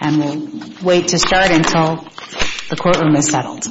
And we'll wait to start until the courtroom is settled.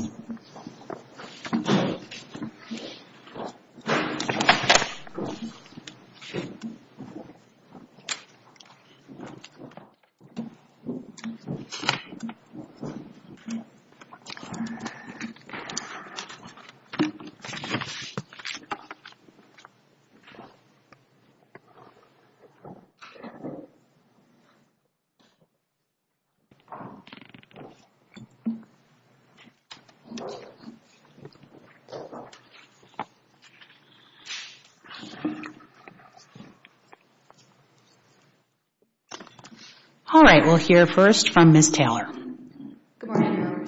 All right. We'll hear first from Ms. Taylor. Good morning. My name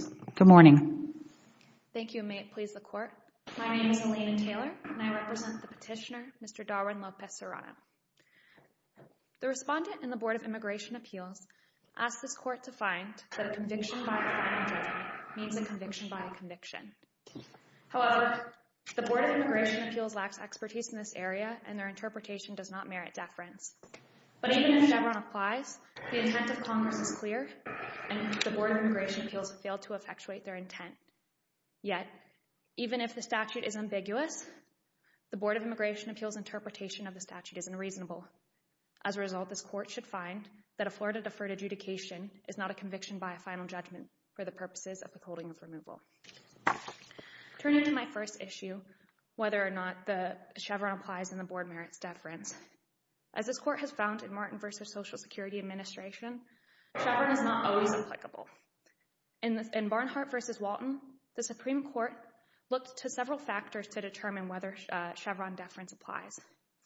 is Taylor, and I represent the petitioner, Mr. Darwin Lopez-Serrano. The respondent in the Board of Immigration Appeals asked this court to find that a conviction by a defendant means a conviction by a conviction. However, the Board of Immigration Appeals lacks expertise in this area, and their interpretation does not merit deference. But even if Chevron applies, the intent of Congress is clear, and the Board of Immigration Appeals failed to effectuate their intent. Yet, even if the statute is ambiguous, the Board of Immigration Appeals' interpretation of the statute is unreasonable. As a result, this court should find that a Florida deferred adjudication is not a conviction by a final judgment for the purposes of withholding of removal. Turning to my first issue, whether or not Chevron applies and the Board merits deference, as this court has found in Martin v. Social Security Administration, Chevron is not always applicable. In Barnhart v. Walton, the Supreme Court looked to several factors to determine whether Chevron deference applies.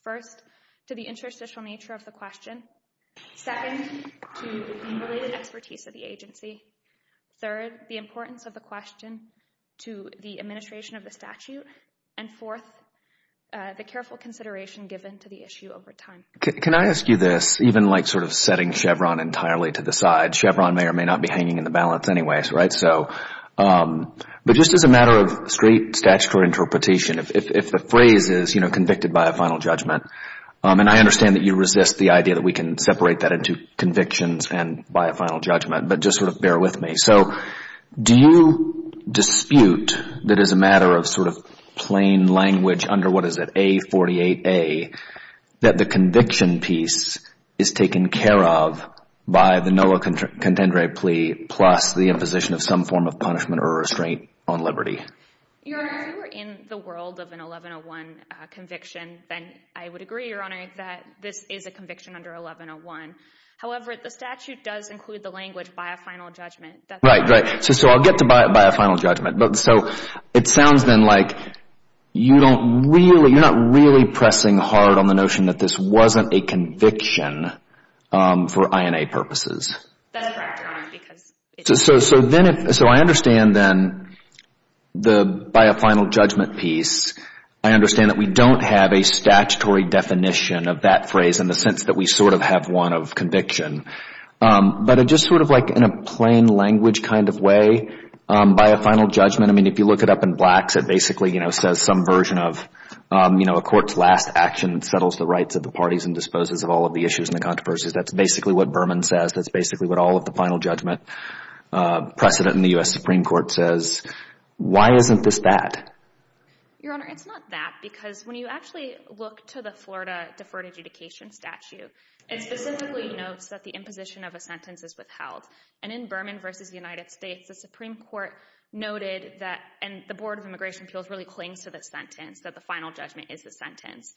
First, to the interstitial nature of the question. Second, to the related expertise of the agency. Third, the importance of the question to the administration of the statute. And fourth, the careful consideration given to the issue over time. Can I ask you this, even like sort of setting Chevron entirely to the side? Chevron may or may not be hanging in the balance anyways, right? But just as a matter of straight statutory interpretation, if the phrase is, you know, convicted by a final judgment, and I understand that you resist the idea that we can separate that into convictions and by a final judgment, but just sort of bear with me. So do you dispute that as a matter of sort of plain language under what is it, A48A, that the conviction piece is taken care of by the NOAA contendere plea plus the imposition of some form of punishment or restraint on liberty? Your Honor, if you were in the world of an 1101 conviction, then I would agree, Your Honor, that this is a conviction under 1101. However, the statute does include the language by a final judgment. Right, right. So I'll get to by a final judgment. So it sounds then like you don't really, you're not really pressing hard on the notion that this wasn't a conviction for INA purposes. That's correct, Your Honor, because it is. So then if, so I understand then the by a final judgment piece, I understand that we don't have a statutory definition of that phrase in the sense that we sort of have one of conviction. But just sort of like in a plain language kind of way, by a final judgment, I mean, if you look it up in Blacks, it basically, you know, says some version of, you know, a court's last action that settles the rights of the parties and disposes of all of the issues and the controversies. That's basically what Berman says. That's basically what all of the final judgment precedent in the U.S. Supreme Court says. Why isn't this that? Your Honor, it's not that because when you actually look to the Florida Deferred Adjudication Statute, it specifically notes that the imposition of a sentence is withheld. And in Berman v. United States, the Supreme Court noted that, and the Board of Immigration Appeals really clings to the sentence, that the final judgment is the sentence.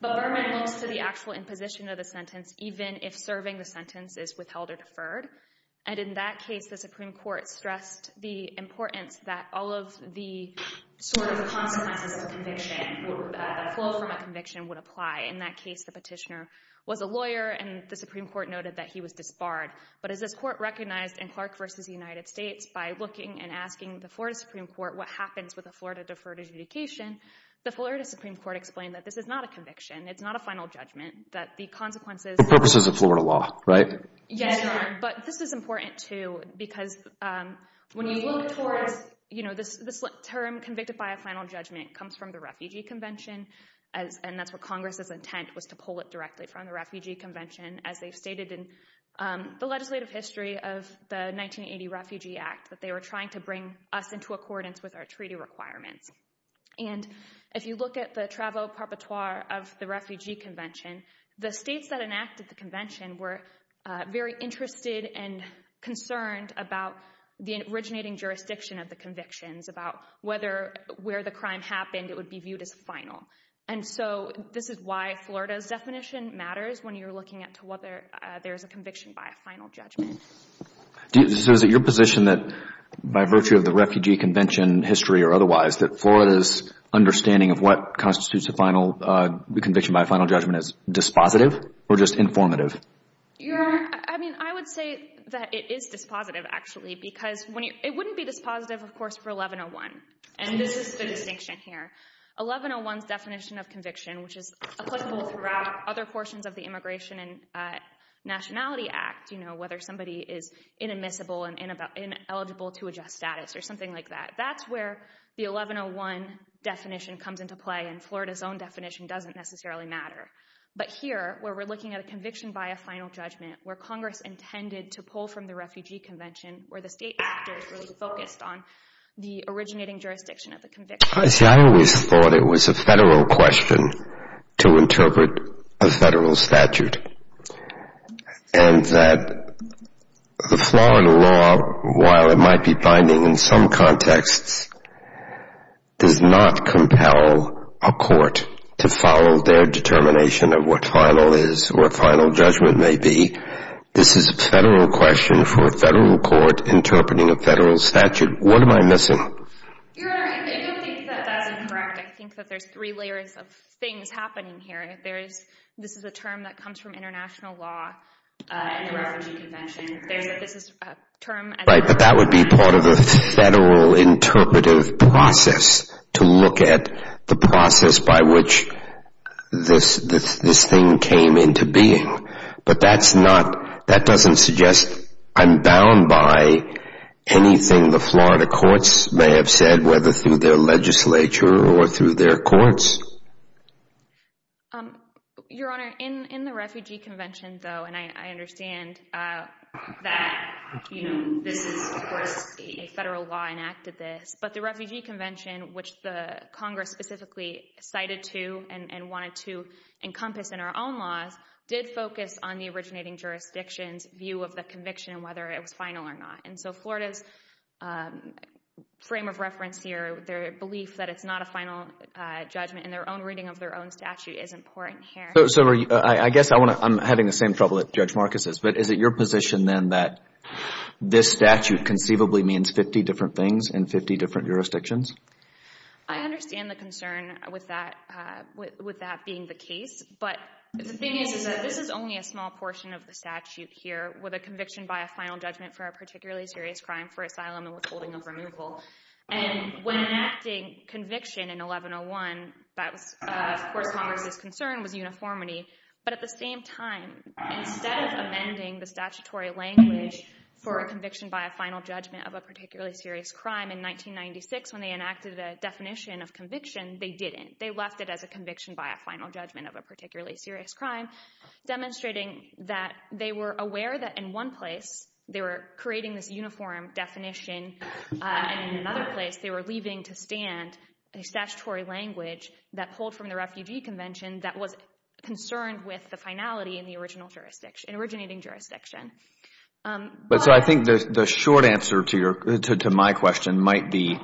But Berman looks to the actual imposition of the sentence even if serving the sentence is withheld or deferred. And in that case, the Supreme Court stressed the importance that all of the sort of consequences of a conviction, the flow from a conviction would apply. In that case, the petitioner was a lawyer, and the Supreme Court noted that he was disbarred. But as this court recognized in Clark v. United States, by looking and asking the Florida Supreme Court what happens with a Florida Deferred Adjudication, the Florida Supreme Court explained that this is not a conviction, it's not a final judgment, that the consequences— For purposes of Florida law, right? Yes, Your Honor, but this is important, too, because when you look towards, you know, this term convicted by a final judgment comes from the Refugee Convention, and that's where Congress's intent was to pull it directly from, the Refugee Convention, as they've stated in the legislative history of the 1980 Refugee Act, that they were trying to bring us into accordance with our treaty requirements. And if you look at the travel perpetuar of the Refugee Convention, the states that enacted the convention were very interested and concerned about the originating jurisdiction of the convictions, about whether where the crime happened, it would be viewed as final. And so this is why Florida's definition matters when you're looking at whether there's a conviction by a final judgment. So is it your position that, by virtue of the Refugee Convention history or otherwise, that Florida's understanding of what constitutes a conviction by a final judgment is dispositive or just informative? Your Honor, I mean, I would say that it is dispositive, actually, because it wouldn't be dispositive, of course, for 1101, and this is the distinction here. 1101's definition of conviction, which is applicable throughout other portions of the Immigration and Nationality Act, you know, whether somebody is inadmissible and ineligible to adjust status or something like that. That's where the 1101 definition comes into play, and Florida's own definition doesn't necessarily matter. But here, where we're looking at a conviction by a final judgment, where Congress intended to pull from the Refugee Convention, where the state actors really focused on the originating jurisdiction of the conviction. See, I always thought it was a federal question to interpret a federal statute, and that the Florida law, while it might be binding in some contexts, does not compel a court to follow their determination of what final is or what final judgment may be. This is a federal question for a federal court interpreting a federal statute. What am I missing? Your Honor, I don't think that that's incorrect. I think that there's three layers of things happening here. This is a term that comes from international law in the Refugee Convention. This is a term as a federal… Right, but that would be part of the federal interpretive process to look at the process by which this thing came into being. But that doesn't suggest I'm bound by anything the Florida courts may have said, whether through their legislature or through their courts. Your Honor, in the Refugee Convention, though, and I understand that this is, of course, a federal law enacted this, but the Refugee Convention, which the Congress specifically cited to and wanted to encompass in our own laws, did focus on the originating jurisdiction's view of the conviction and whether it was final or not. And so Florida's frame of reference here, their belief that it's not a final judgment in their own reading of their own statute, isn't important here. So I guess I'm having the same trouble that Judge Marcus is, but is it your position then that this statute conceivably means 50 different things in 50 different jurisdictions? I understand the concern with that being the case, but the thing is that this is only a small portion of the statute here with a conviction by a final judgment for a particularly serious crime, for asylum and withholding of removal. And when enacting conviction in 1101, that was, of course, Congress's concern was uniformity. But at the same time, instead of amending the statutory language for a conviction by a final judgment of a particularly serious crime in 1996, when they enacted a definition of conviction, they didn't. They left it as a conviction by a final judgment of a particularly serious crime, demonstrating that they were aware that in one place they were creating this uniform definition and in another place they were leaving to stand a statutory language that pulled from the Refugee Convention that was concerned with the finality in the originating jurisdiction. So I think the short answer to my question might be,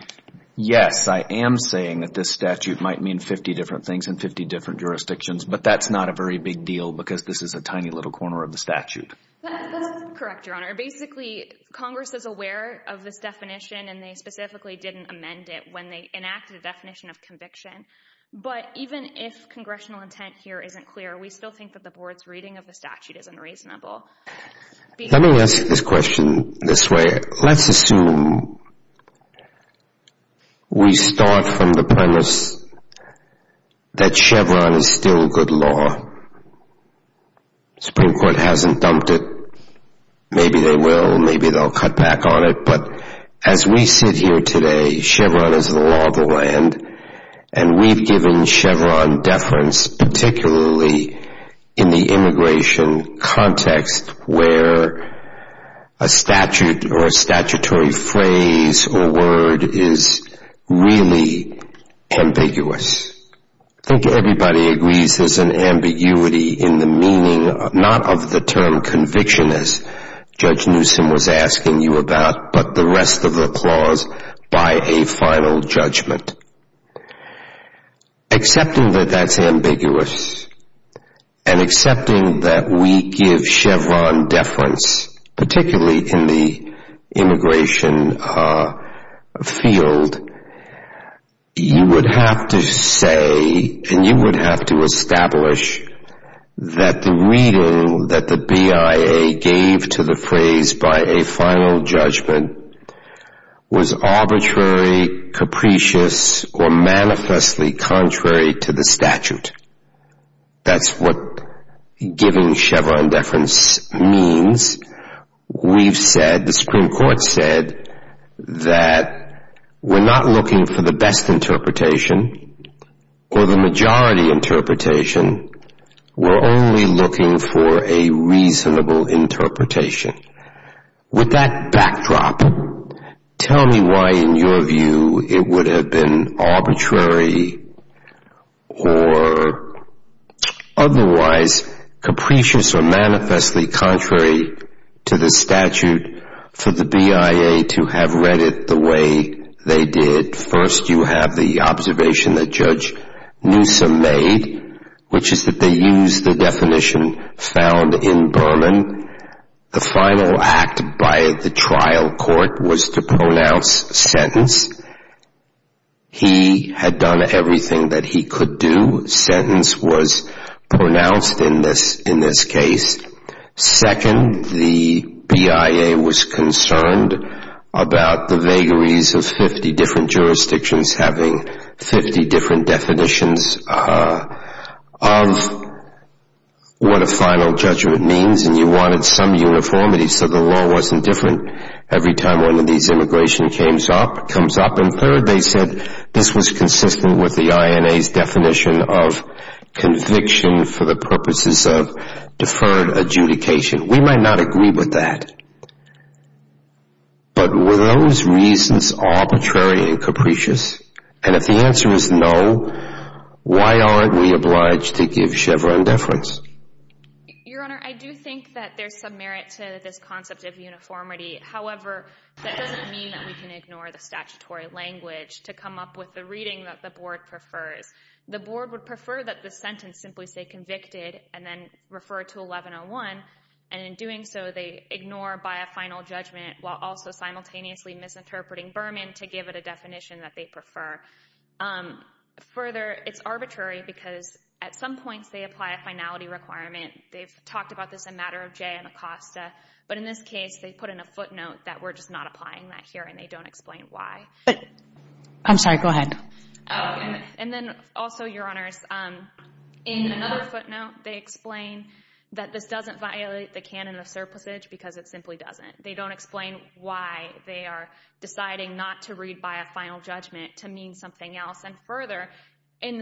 yes, I am saying that this statute might mean 50 different things in 50 different jurisdictions, but that's not a very big deal because this is a tiny little corner of the statute. That's correct, Your Honor. Basically, Congress is aware of this definition, and they specifically didn't amend it when they enacted a definition of conviction. But even if congressional intent here isn't clear, we still think that the Board's reading of the statute is unreasonable. Let me ask this question this way. Let's assume we start from the premise that Chevron is still good law. The Supreme Court hasn't dumped it. Maybe they will. Maybe they'll cut back on it. But as we sit here today, Chevron is the law of the land, and we've given Chevron deference, particularly in the immigration context where a statute or a statutory phrase or word is really ambiguous. I think everybody agrees there's an ambiguity in the meaning, not of the term conviction as Judge Newsom was asking you about, but the rest of the clause by a final judgment. Accepting that that's ambiguous and accepting that we give Chevron deference, particularly in the immigration field, you would have to say and you would have to establish that the reading that the BIA gave to the phrase by a final judgment was arbitrary, capricious, or manifestly contrary to the statute. That's what giving Chevron deference means. We've said, the Supreme Court said, that we're not looking for the best interpretation or the majority interpretation. We're only looking for a reasonable interpretation. With that backdrop, tell me why in your view it would have been arbitrary or otherwise capricious or manifestly contrary to the statute for the BIA to have read it the way they did. First, you have the observation that Judge Newsom made, which is that they used the definition found in Berman. The final act by the trial court was to pronounce sentence. He had done everything that he could do. Sentence was pronounced in this case. Second, the BIA was concerned about the vagaries of 50 different jurisdictions having 50 different definitions of what a final judgment means, and you wanted some uniformity so the law wasn't different every time one of these immigration comes up. And third, they said this was consistent with the INA's definition of conviction for the purposes of deferred adjudication. We might not agree with that. But were those reasons arbitrary and capricious? And if the answer is no, why aren't we obliged to give Chevron deference? Your Honor, I do think that there's some merit to this concept of uniformity. However, that doesn't mean that we can ignore the statutory language to come up with the reading that the Board prefers. The Board would prefer that the sentence simply say convicted and then refer to 1101, and in doing so they ignore BIA final judgment while also simultaneously misinterpreting Berman to give it a definition that they prefer. Further, it's arbitrary because at some points they apply a finality requirement. They've talked about this in matter of Jay and Acosta, but in this case they put in a footnote that we're just not applying that here and they don't explain why. I'm sorry, go ahead. And then also, Your Honors, in another footnote they explain that this doesn't violate the canon of surplusage because it simply doesn't. They don't explain why they are deciding not to read BIA final judgment to mean something else. And further, in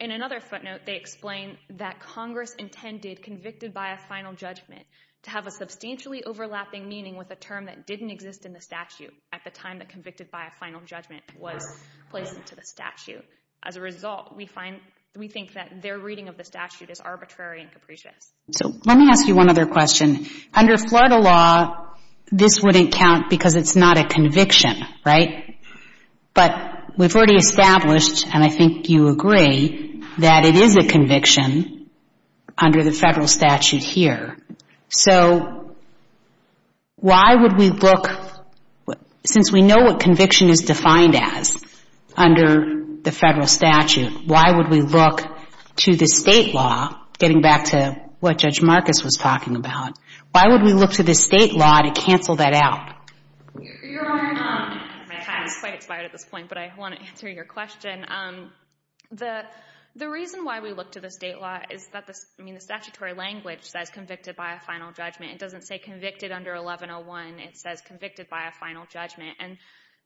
another footnote they explain that Congress intended convicted BIA final judgment to have a substantially overlapping meaning with a term that didn't exist in the statute at the time that convicted BIA final judgment was placed into the statute. As a result, we think that their reading of the statute is arbitrary and capricious. So let me ask you one other question. Under Florida law, this wouldn't count because it's not a conviction, right? But we've already established, and I think you agree, that it is a conviction under the federal statute here. So why would we look, since we know what conviction is defined as under the federal statute, why would we look to the state law, getting back to what Judge Marcus was talking about, why would we look to the state law to cancel that out? Your Honor, my time is quite expired at this point, but I want to answer your question. The reason why we look to the state law is that the statutory language says convicted BIA final judgment. It doesn't say convicted under 1101. It says convicted BIA final judgment. And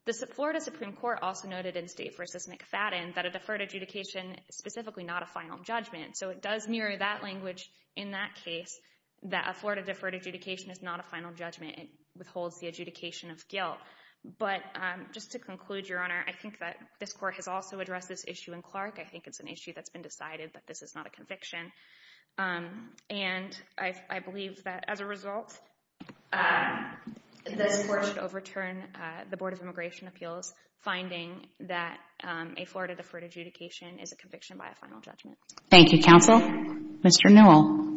the Florida Supreme Court also noted in State v. McFadden that a deferred adjudication is specifically not a final judgment. So it does mirror that language in that case, that a Florida deferred adjudication is not a final judgment. It withholds the adjudication of guilt. But just to conclude, Your Honor, I think that this Court has also addressed this issue in Clark. I think it's an issue that's been decided that this is not a conviction. And I believe that, as a result, this Court should overturn the Board of Immigration Appeals, finding that a Florida deferred adjudication is a conviction by a final judgment. Thank you, counsel. Mr. Newell.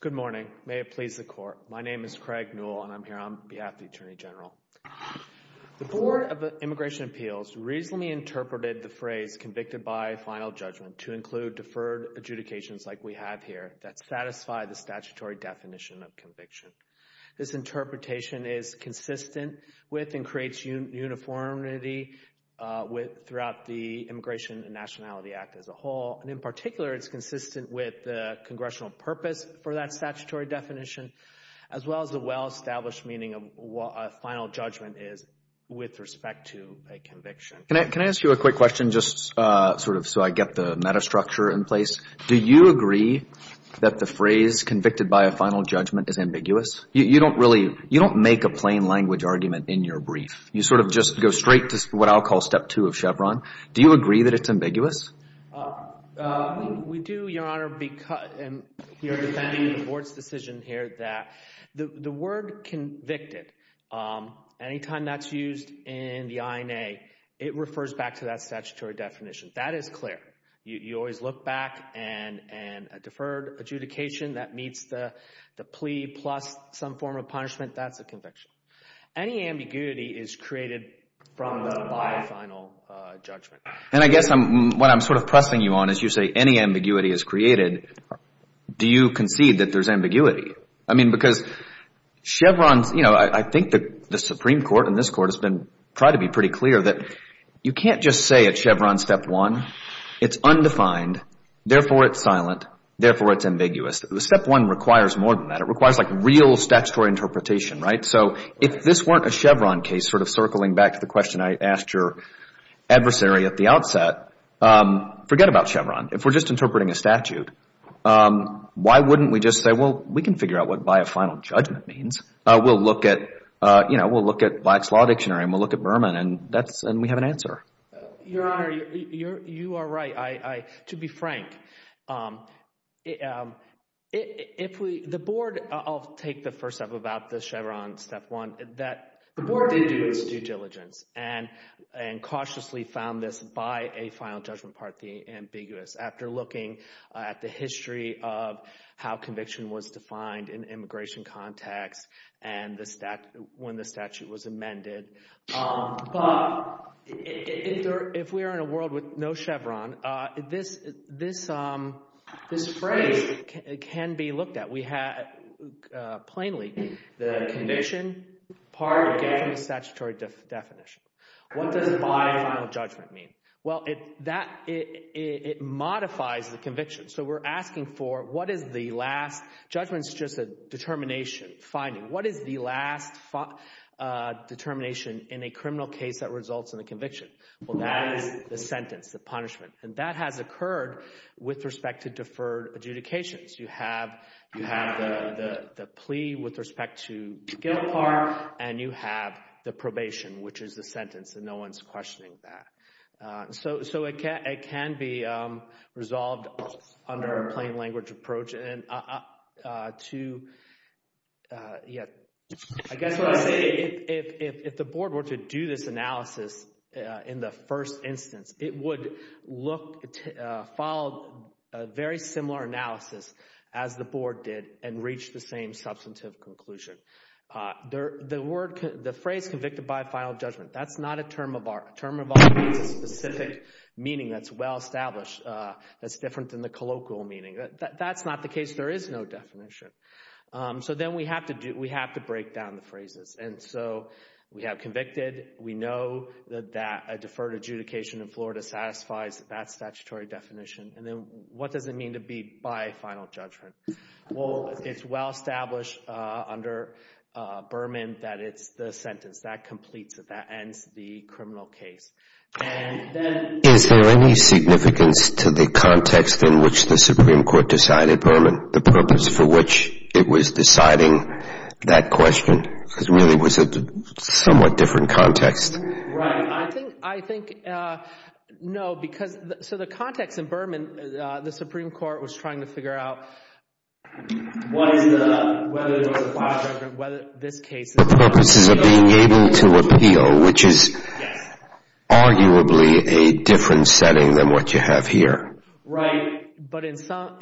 Good morning. May it please the Court. My name is Craig Newell, and I'm here on behalf of the Attorney General. The Board of Immigration Appeals reasonably interpreted the phrase convicted by final judgment to include deferred adjudications like we have here that satisfy the statutory definition of conviction. This interpretation is consistent with and creates uniformity throughout the Immigration and Nationality Act as a whole. And in particular, it's consistent with the congressional purpose for that statutory definition, as well as the well-established meaning of what a final judgment is with respect to a conviction. Can I ask you a quick question just sort of so I get the metastructure in place? Do you agree that the phrase convicted by a final judgment is ambiguous? You don't make a plain language argument in your brief. You sort of just go straight to what I'll call step two of Chevron. Do you agree that it's ambiguous? We do, Your Honor, and we are defending the Board's decision here that the word convicted, anytime that's used in the INA, it refers back to that statutory definition. That is clear. You always look back, and a deferred adjudication that meets the plea plus some form of punishment, that's a conviction. Any ambiguity is created from the final judgment. And I guess what I'm sort of pressing you on is you say any ambiguity is created. Do you concede that there's ambiguity? I mean, because Chevron's, you know, I think the Supreme Court and this Court has been trying to be pretty clear that you can't just say at Chevron step one, it's undefined, therefore it's silent, therefore it's ambiguous. Step one requires more than that. It requires like real statutory interpretation, right? So if this weren't a Chevron case sort of circling back to the question I asked your adversary at the outset, forget about Chevron. If we're just interpreting a statute, why wouldn't we just say, well, we can figure out what by a final judgment means. We'll look at Black's Law Dictionary, and we'll look at Berman, and we have an answer. Your Honor, you are right. To be frank, if we – the board – I'll take the first step about the Chevron step one. The board did do its due diligence and cautiously found this by a final judgment part the ambiguous. After looking at the history of how conviction was defined in immigration context and the – when the statute was amended. But if we are in a world with no Chevron, this phrase can be looked at. We have plainly the conviction part again from the statutory definition. What does by a final judgment mean? Well, that – it modifies the conviction. So we're asking for what is the last – judgment is just a determination, finding. What is the last determination in a criminal case that results in a conviction? Well, that is the sentence, the punishment, and that has occurred with respect to deferred adjudications. You have the plea with respect to guilt part, and you have the probation, which is the sentence, and no one is questioning that. So it can be resolved under a plain language approach. I guess what I'm saying, if the board were to do this analysis in the first instance, it would look – follow a very similar analysis as the board did and reach the same substantive conclusion. The phrase convicted by a final judgment, that's not a term of art. A term of art means a specific meaning that's well established that's different than the colloquial meaning. That's not the case. There is no definition. So then we have to do – we have to break down the phrases. And so we have convicted. We know that a deferred adjudication in Florida satisfies that statutory definition. And then what does it mean to be by a final judgment? Well, it's well established under Berman that it's the sentence. That completes it. That ends the criminal case. Is there any significance to the context in which the Supreme Court decided Berman, the purpose for which it was deciding that question? Because really it was a somewhat different context. Right. I think – no, because – so the context in Berman, the Supreme Court was trying to figure out what is the – whether it was a final judgment, whether this case – The purposes of being able to appeal, which is – Arguably a different setting than what you have here. Right. But in some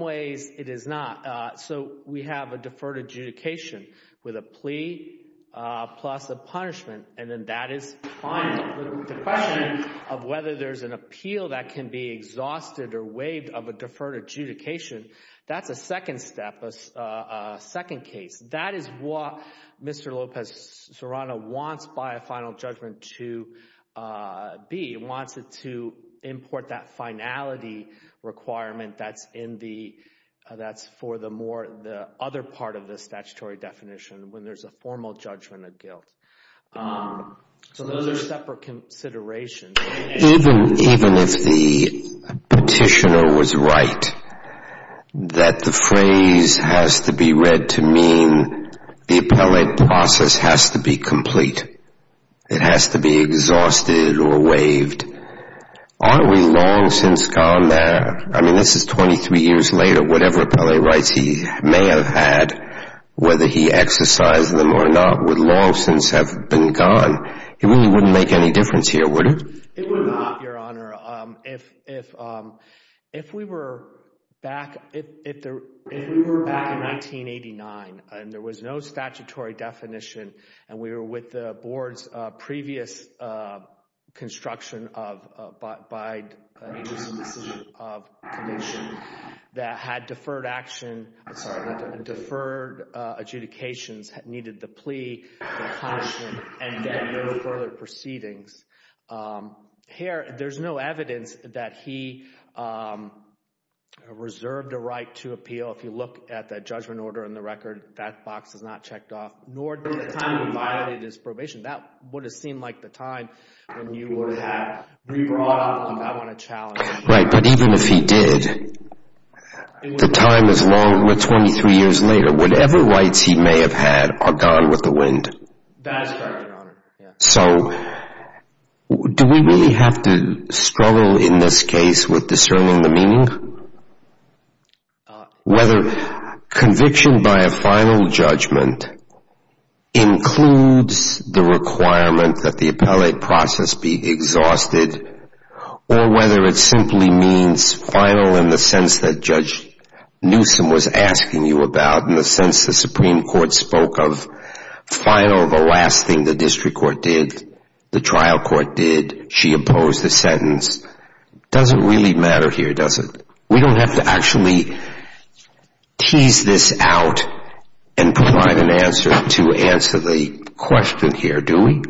ways it is not. So we have a deferred adjudication with a plea plus a punishment, and then that is final. The question of whether there's an appeal that can be exhausted or waived of a deferred adjudication, that's a second step, a second case. That is what Mr. Lopez Serrano wants by a final judgment to be. He wants it to import that finality requirement that's in the – that's for the more – the other part of the statutory definition when there's a formal judgment of guilt. So those are separate considerations. Even if the petitioner was right that the phrase has to be read to mean the appellate process has to be complete, it has to be exhausted or waived, aren't we long since gone there? I mean, this is 23 years later. Whatever appellate rights he may have had, whether he exercised them or not, would long since have been gone. It really wouldn't make any difference here, would it? It would not, Your Honor. If we were back – if we were back in 1989 and there was no statutory definition and we were with the board's previous construction of – by a decision of commission that had deferred action – the plea, the caution, and then no further proceedings. Here, there's no evidence that he reserved a right to appeal. If you look at the judgment order and the record, that box is not checked off. Nor did the time he violated his probation. That would have seemed like the time when you would have re-brought up on that one a challenge. Right, but even if he did, the time is long. Whatever rights he may have had are gone with the wind. That is correct, Your Honor. So do we really have to struggle in this case with discerning the meaning? Whether conviction by a final judgment includes the requirement that the appellate process be exhausted or whether it simply means final in the sense that Judge Newsom was asking you about, in the sense the Supreme Court spoke of final, the last thing the district court did, the trial court did. She opposed the sentence. It doesn't really matter here, does it? We don't have to actually tease this out and provide an answer to answer the question here, do we?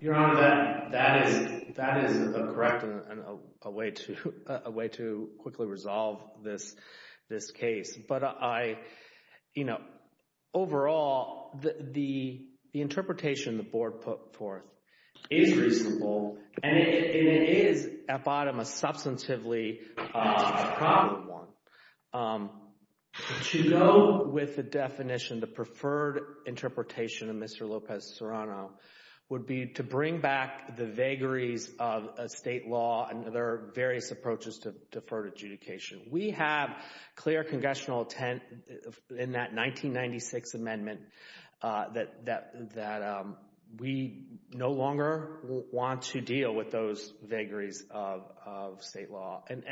Your Honor, that is correct and a way to quickly resolve this case. But I – overall, the interpretation the board put forth is reasonable and it is, at bottom, a substantively probable one. To go with the definition, the preferred interpretation of Mr. Lopez-Serrano would be to bring back the vagaries of state law and there are various approaches to deferred adjudication. We have clear congressional intent in that 1996 amendment that we no longer want to deal with those vagaries of state law. And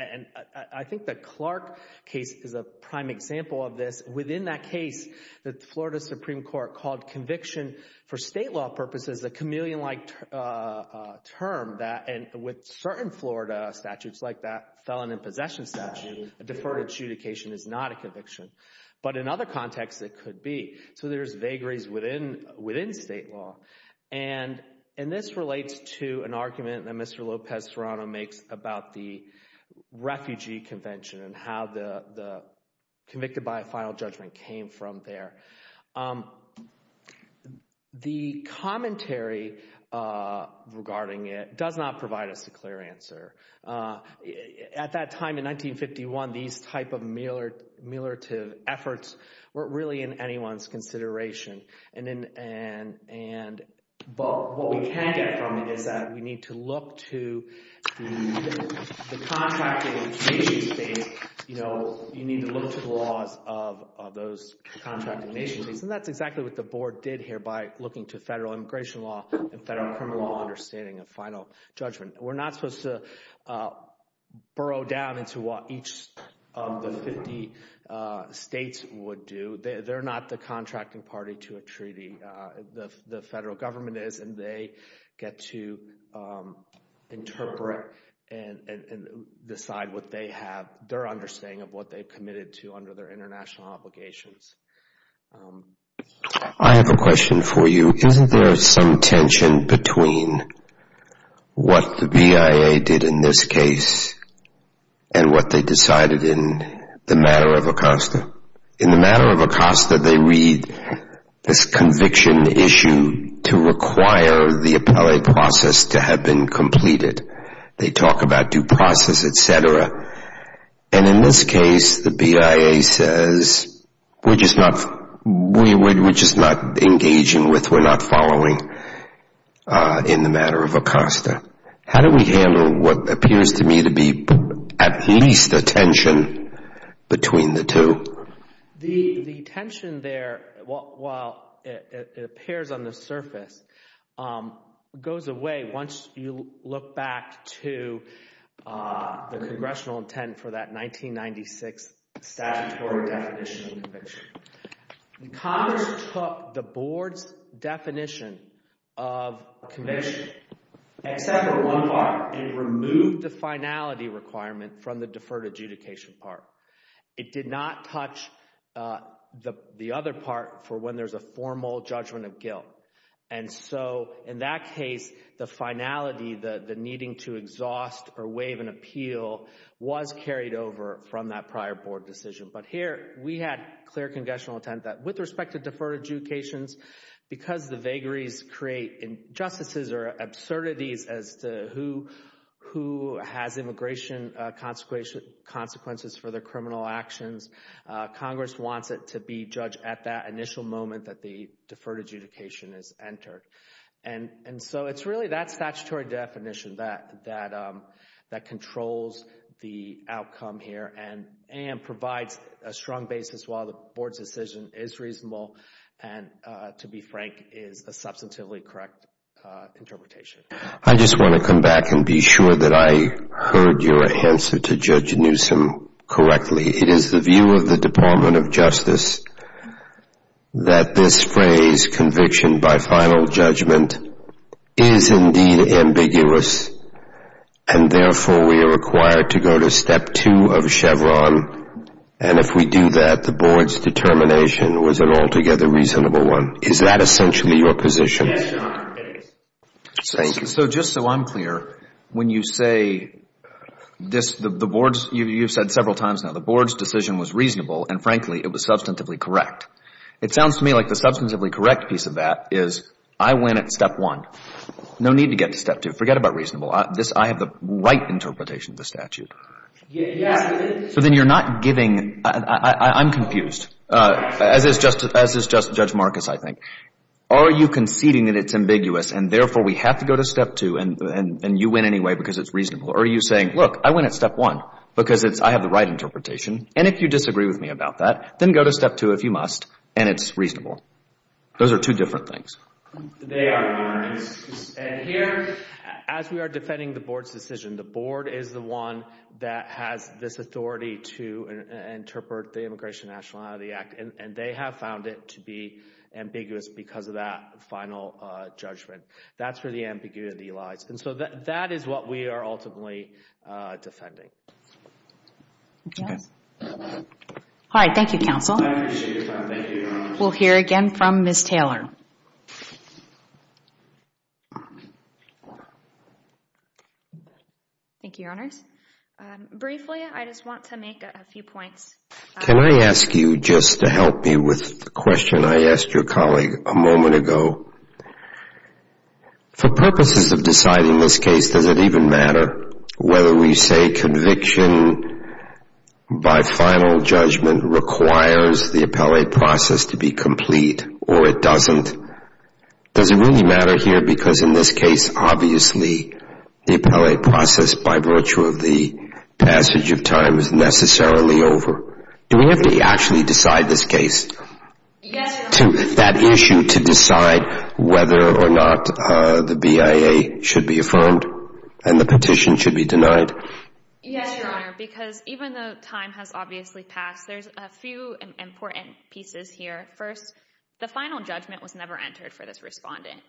I think the Clark case is a prime example of this. Within that case, the Florida Supreme Court called conviction for state law purposes a chameleon-like term that with certain Florida statutes like that felon in possession statute, deferred adjudication is not a conviction. But in other contexts, it could be. So there's vagaries within state law. And this relates to an argument that Mr. Lopez-Serrano makes about the refugee convention and how the convicted by a final judgment came from there. The commentary regarding it does not provide us a clear answer. At that time in 1951, these type of ameliorative efforts weren't really in anyone's consideration. But what we can get from it is that we need to look to the contracting nation states. You need to look to the laws of those contracting nation states. And that's exactly what the board did here by looking to federal immigration law and federal criminal law understanding a final judgment. We're not supposed to burrow down into what each of the 50 states would do. They're not the contracting party to a treaty. The federal government is, and they get to interpret and decide what they have, their understanding of what they've committed to under their international obligations. I have a question for you. Isn't there some tension between what the BIA did in this case and what they decided in the matter of Acosta? In the matter of Acosta, they read this conviction issue to require the appellate process to have been completed. They talk about due process, et cetera. And in this case, the BIA says we're just not engaging with, we're not following in the matter of Acosta. How do we handle what appears to me to be at least a tension between the two? The tension there, while it appears on the surface, goes away once you look back to the congressional intent for that 1996 statutory definition of conviction. Congress took the board's definition of conviction, except for one part, and removed the finality requirement from the deferred adjudication part. It did not touch the other part for when there's a formal judgment of guilt. And so, in that case, the finality, the needing to exhaust or waive an appeal, was carried over from that prior board decision. But here, we had clear congressional intent that with respect to deferred adjudications, because the vagaries create injustices or absurdities as to who has immigration consequences for their criminal actions, Congress wants it to be judged at that initial moment that the deferred adjudication is entered. And so, it's really that statutory definition that controls the outcome here and provides a strong basis while the board's decision is reasonable and, to be frank, is a substantively correct interpretation. I just want to come back and be sure that I heard your answer to Judge Newsom correctly. It is the view of the Department of Justice that this phrase, conviction by final judgment, is indeed ambiguous. And therefore, we are required to go to step two of Chevron. And if we do that, the board's determination was an altogether reasonable one. Is that essentially your position? Yes, Your Honor, it is. Thank you. So just so I'm clear, when you say this, the board's, you've said several times now, the board's decision was reasonable and, frankly, it was substantively correct. It sounds to me like the substantively correct piece of that is I win at step one. No need to get to step two. Forget about reasonable. I have the right interpretation of the statute. Yes. So then you're not giving, I'm confused, as is Judge Marcus, I think. Are you conceding that it's ambiguous and, therefore, we have to go to step two and you win anyway because it's reasonable? Or are you saying, look, I win at step one because I have the right interpretation. And if you disagree with me about that, then go to step two if you must, and it's reasonable. Those are two different things. They are, Your Honor. And here, as we are defending the board's decision, the board is the one that has this authority to interpret the Immigration Nationality Act. And they have found it to be ambiguous because of that final judgment. That's where the ambiguity lies. And so that is what we are ultimately defending. Okay. All right. Thank you, counsel. I appreciate your time. Thank you, Your Honors. We'll hear again from Ms. Taylor. Thank you, Your Honors. Briefly, I just want to make a few points. Can I ask you just to help me with the question I asked your colleague a moment ago? For purposes of deciding this case, does it even matter whether we say conviction by final judgment requires the appellate process to be complete or it doesn't? Does it really matter here? Because in this case, obviously, the appellate process by virtue of the passage of time is necessarily over. Do we have to actually decide this case, that issue, to decide whether or not the BIA should be affirmed and the petition should be denied? Yes, Your Honor, because even though time has obviously passed, there's a few important pieces here. First, the final judgment was never entered for this respondent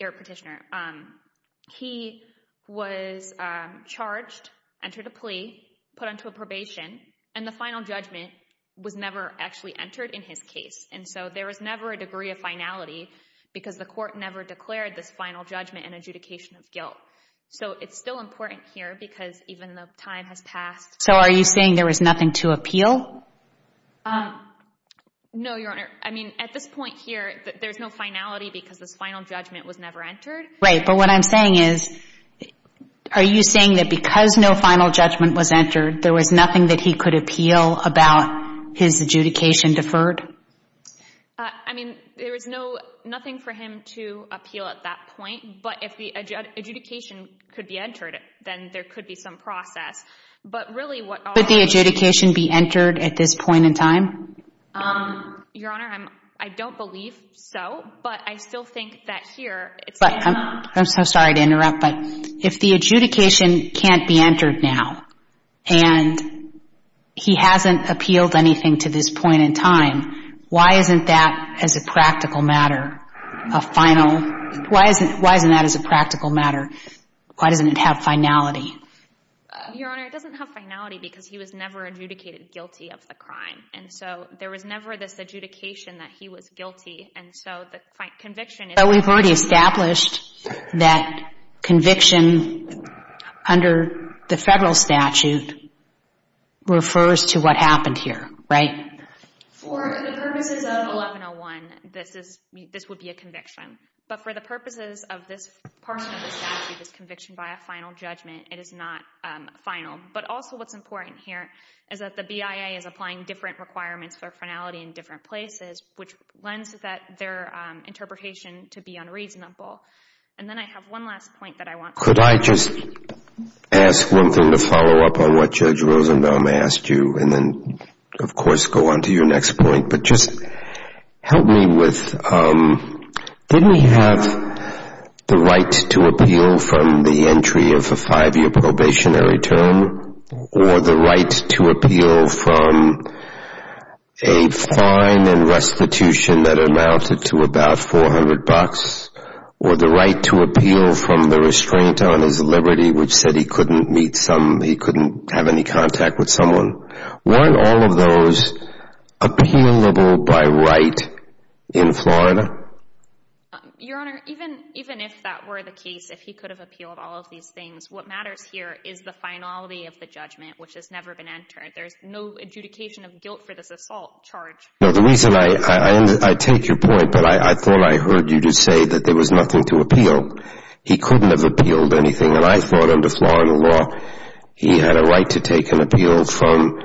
or petitioner. He was charged, entered a plea, put onto a probation, and the final judgment was never actually entered in his case. And so there was never a degree of finality because the court never declared this final judgment an adjudication of guilt. So it's still important here because even though time has passed. No, Your Honor. I mean, at this point here, there's no finality because this final judgment was never entered. Right. But what I'm saying is, are you saying that because no final judgment was entered, there was nothing that he could appeal about his adjudication deferred? I mean, there was nothing for him to appeal at that point. But if the adjudication could be entered, then there could be some process. Could the adjudication be entered at this point in time? Your Honor, I don't believe so. But I still think that here. I'm so sorry to interrupt, but if the adjudication can't be entered now and he hasn't appealed anything to this point in time, why isn't that, as a practical matter, a final? Why isn't that as a practical matter? Why doesn't it have finality? Your Honor, it doesn't have finality because he was never adjudicated guilty of the crime. And so there was never this adjudication that he was guilty. And so the conviction is— But we've already established that conviction under the federal statute refers to what happened here, right? For the purposes of 1101, this would be a conviction. But for the purposes of this portion of the statute, this conviction by a final judgment, it is not final. But also what's important here is that the BIA is applying different requirements for finality in different places, which lends their interpretation to be unreasonable. And then I have one last point that I want to make. Could I just ask one thing to follow up on what Judge Rosenbaum asked you? And then, of course, go on to your next point. But just help me with— didn't he have the right to appeal from the entry of a five-year probationary term or the right to appeal from a fine and restitution that amounted to about $400 or the right to appeal from the restraint on his liberty, which said he couldn't meet some— he couldn't have any contact with someone? Weren't all of those appealable by right in Florida? Your Honor, even if that were the case, if he could have appealed all of these things, what matters here is the finality of the judgment, which has never been entered. There's no adjudication of guilt for this assault charge. No, the reason I—I take your point, but I thought I heard you just say that there was nothing to appeal. He couldn't have appealed anything. And I thought under Florida law he had a right to take an appeal from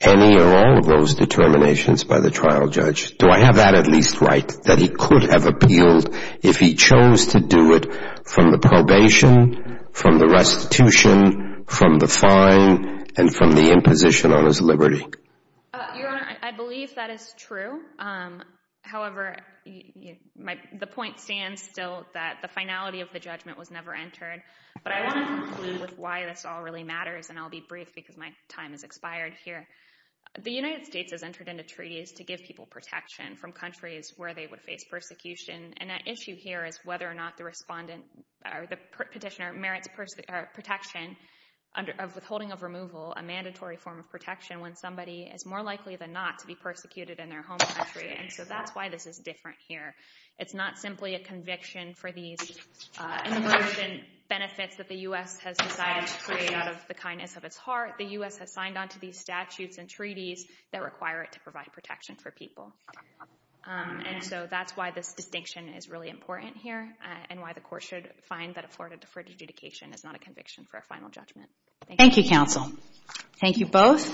any or all of those determinations by the trial judge. Do I have that at least right, that he could have appealed if he chose to do it from the probation, from the restitution, from the fine, and from the imposition on his liberty? Your Honor, I believe that is true. However, the point stands still that the finality of the judgment was never entered. But I want to conclude with why this all really matters, and I'll be brief because my time has expired here. The United States has entered into treaties to give people protection from countries where they would face persecution, and that issue here is whether or not the respondent or the petitioner merits protection of withholding of removal, a mandatory form of protection when somebody is more likely than not to be persecuted in their home country. And so that's why this is different here. It's not simply a conviction for these immersion benefits that the U.S. has decided to create out of the kindness of its heart. The U.S. has signed onto these statutes and treaties that require it to provide protection for people. And so that's why this distinction is really important here and why the court should find that a Florida deferred adjudication is not a conviction for a final judgment. Thank you, counsel. Thank you both.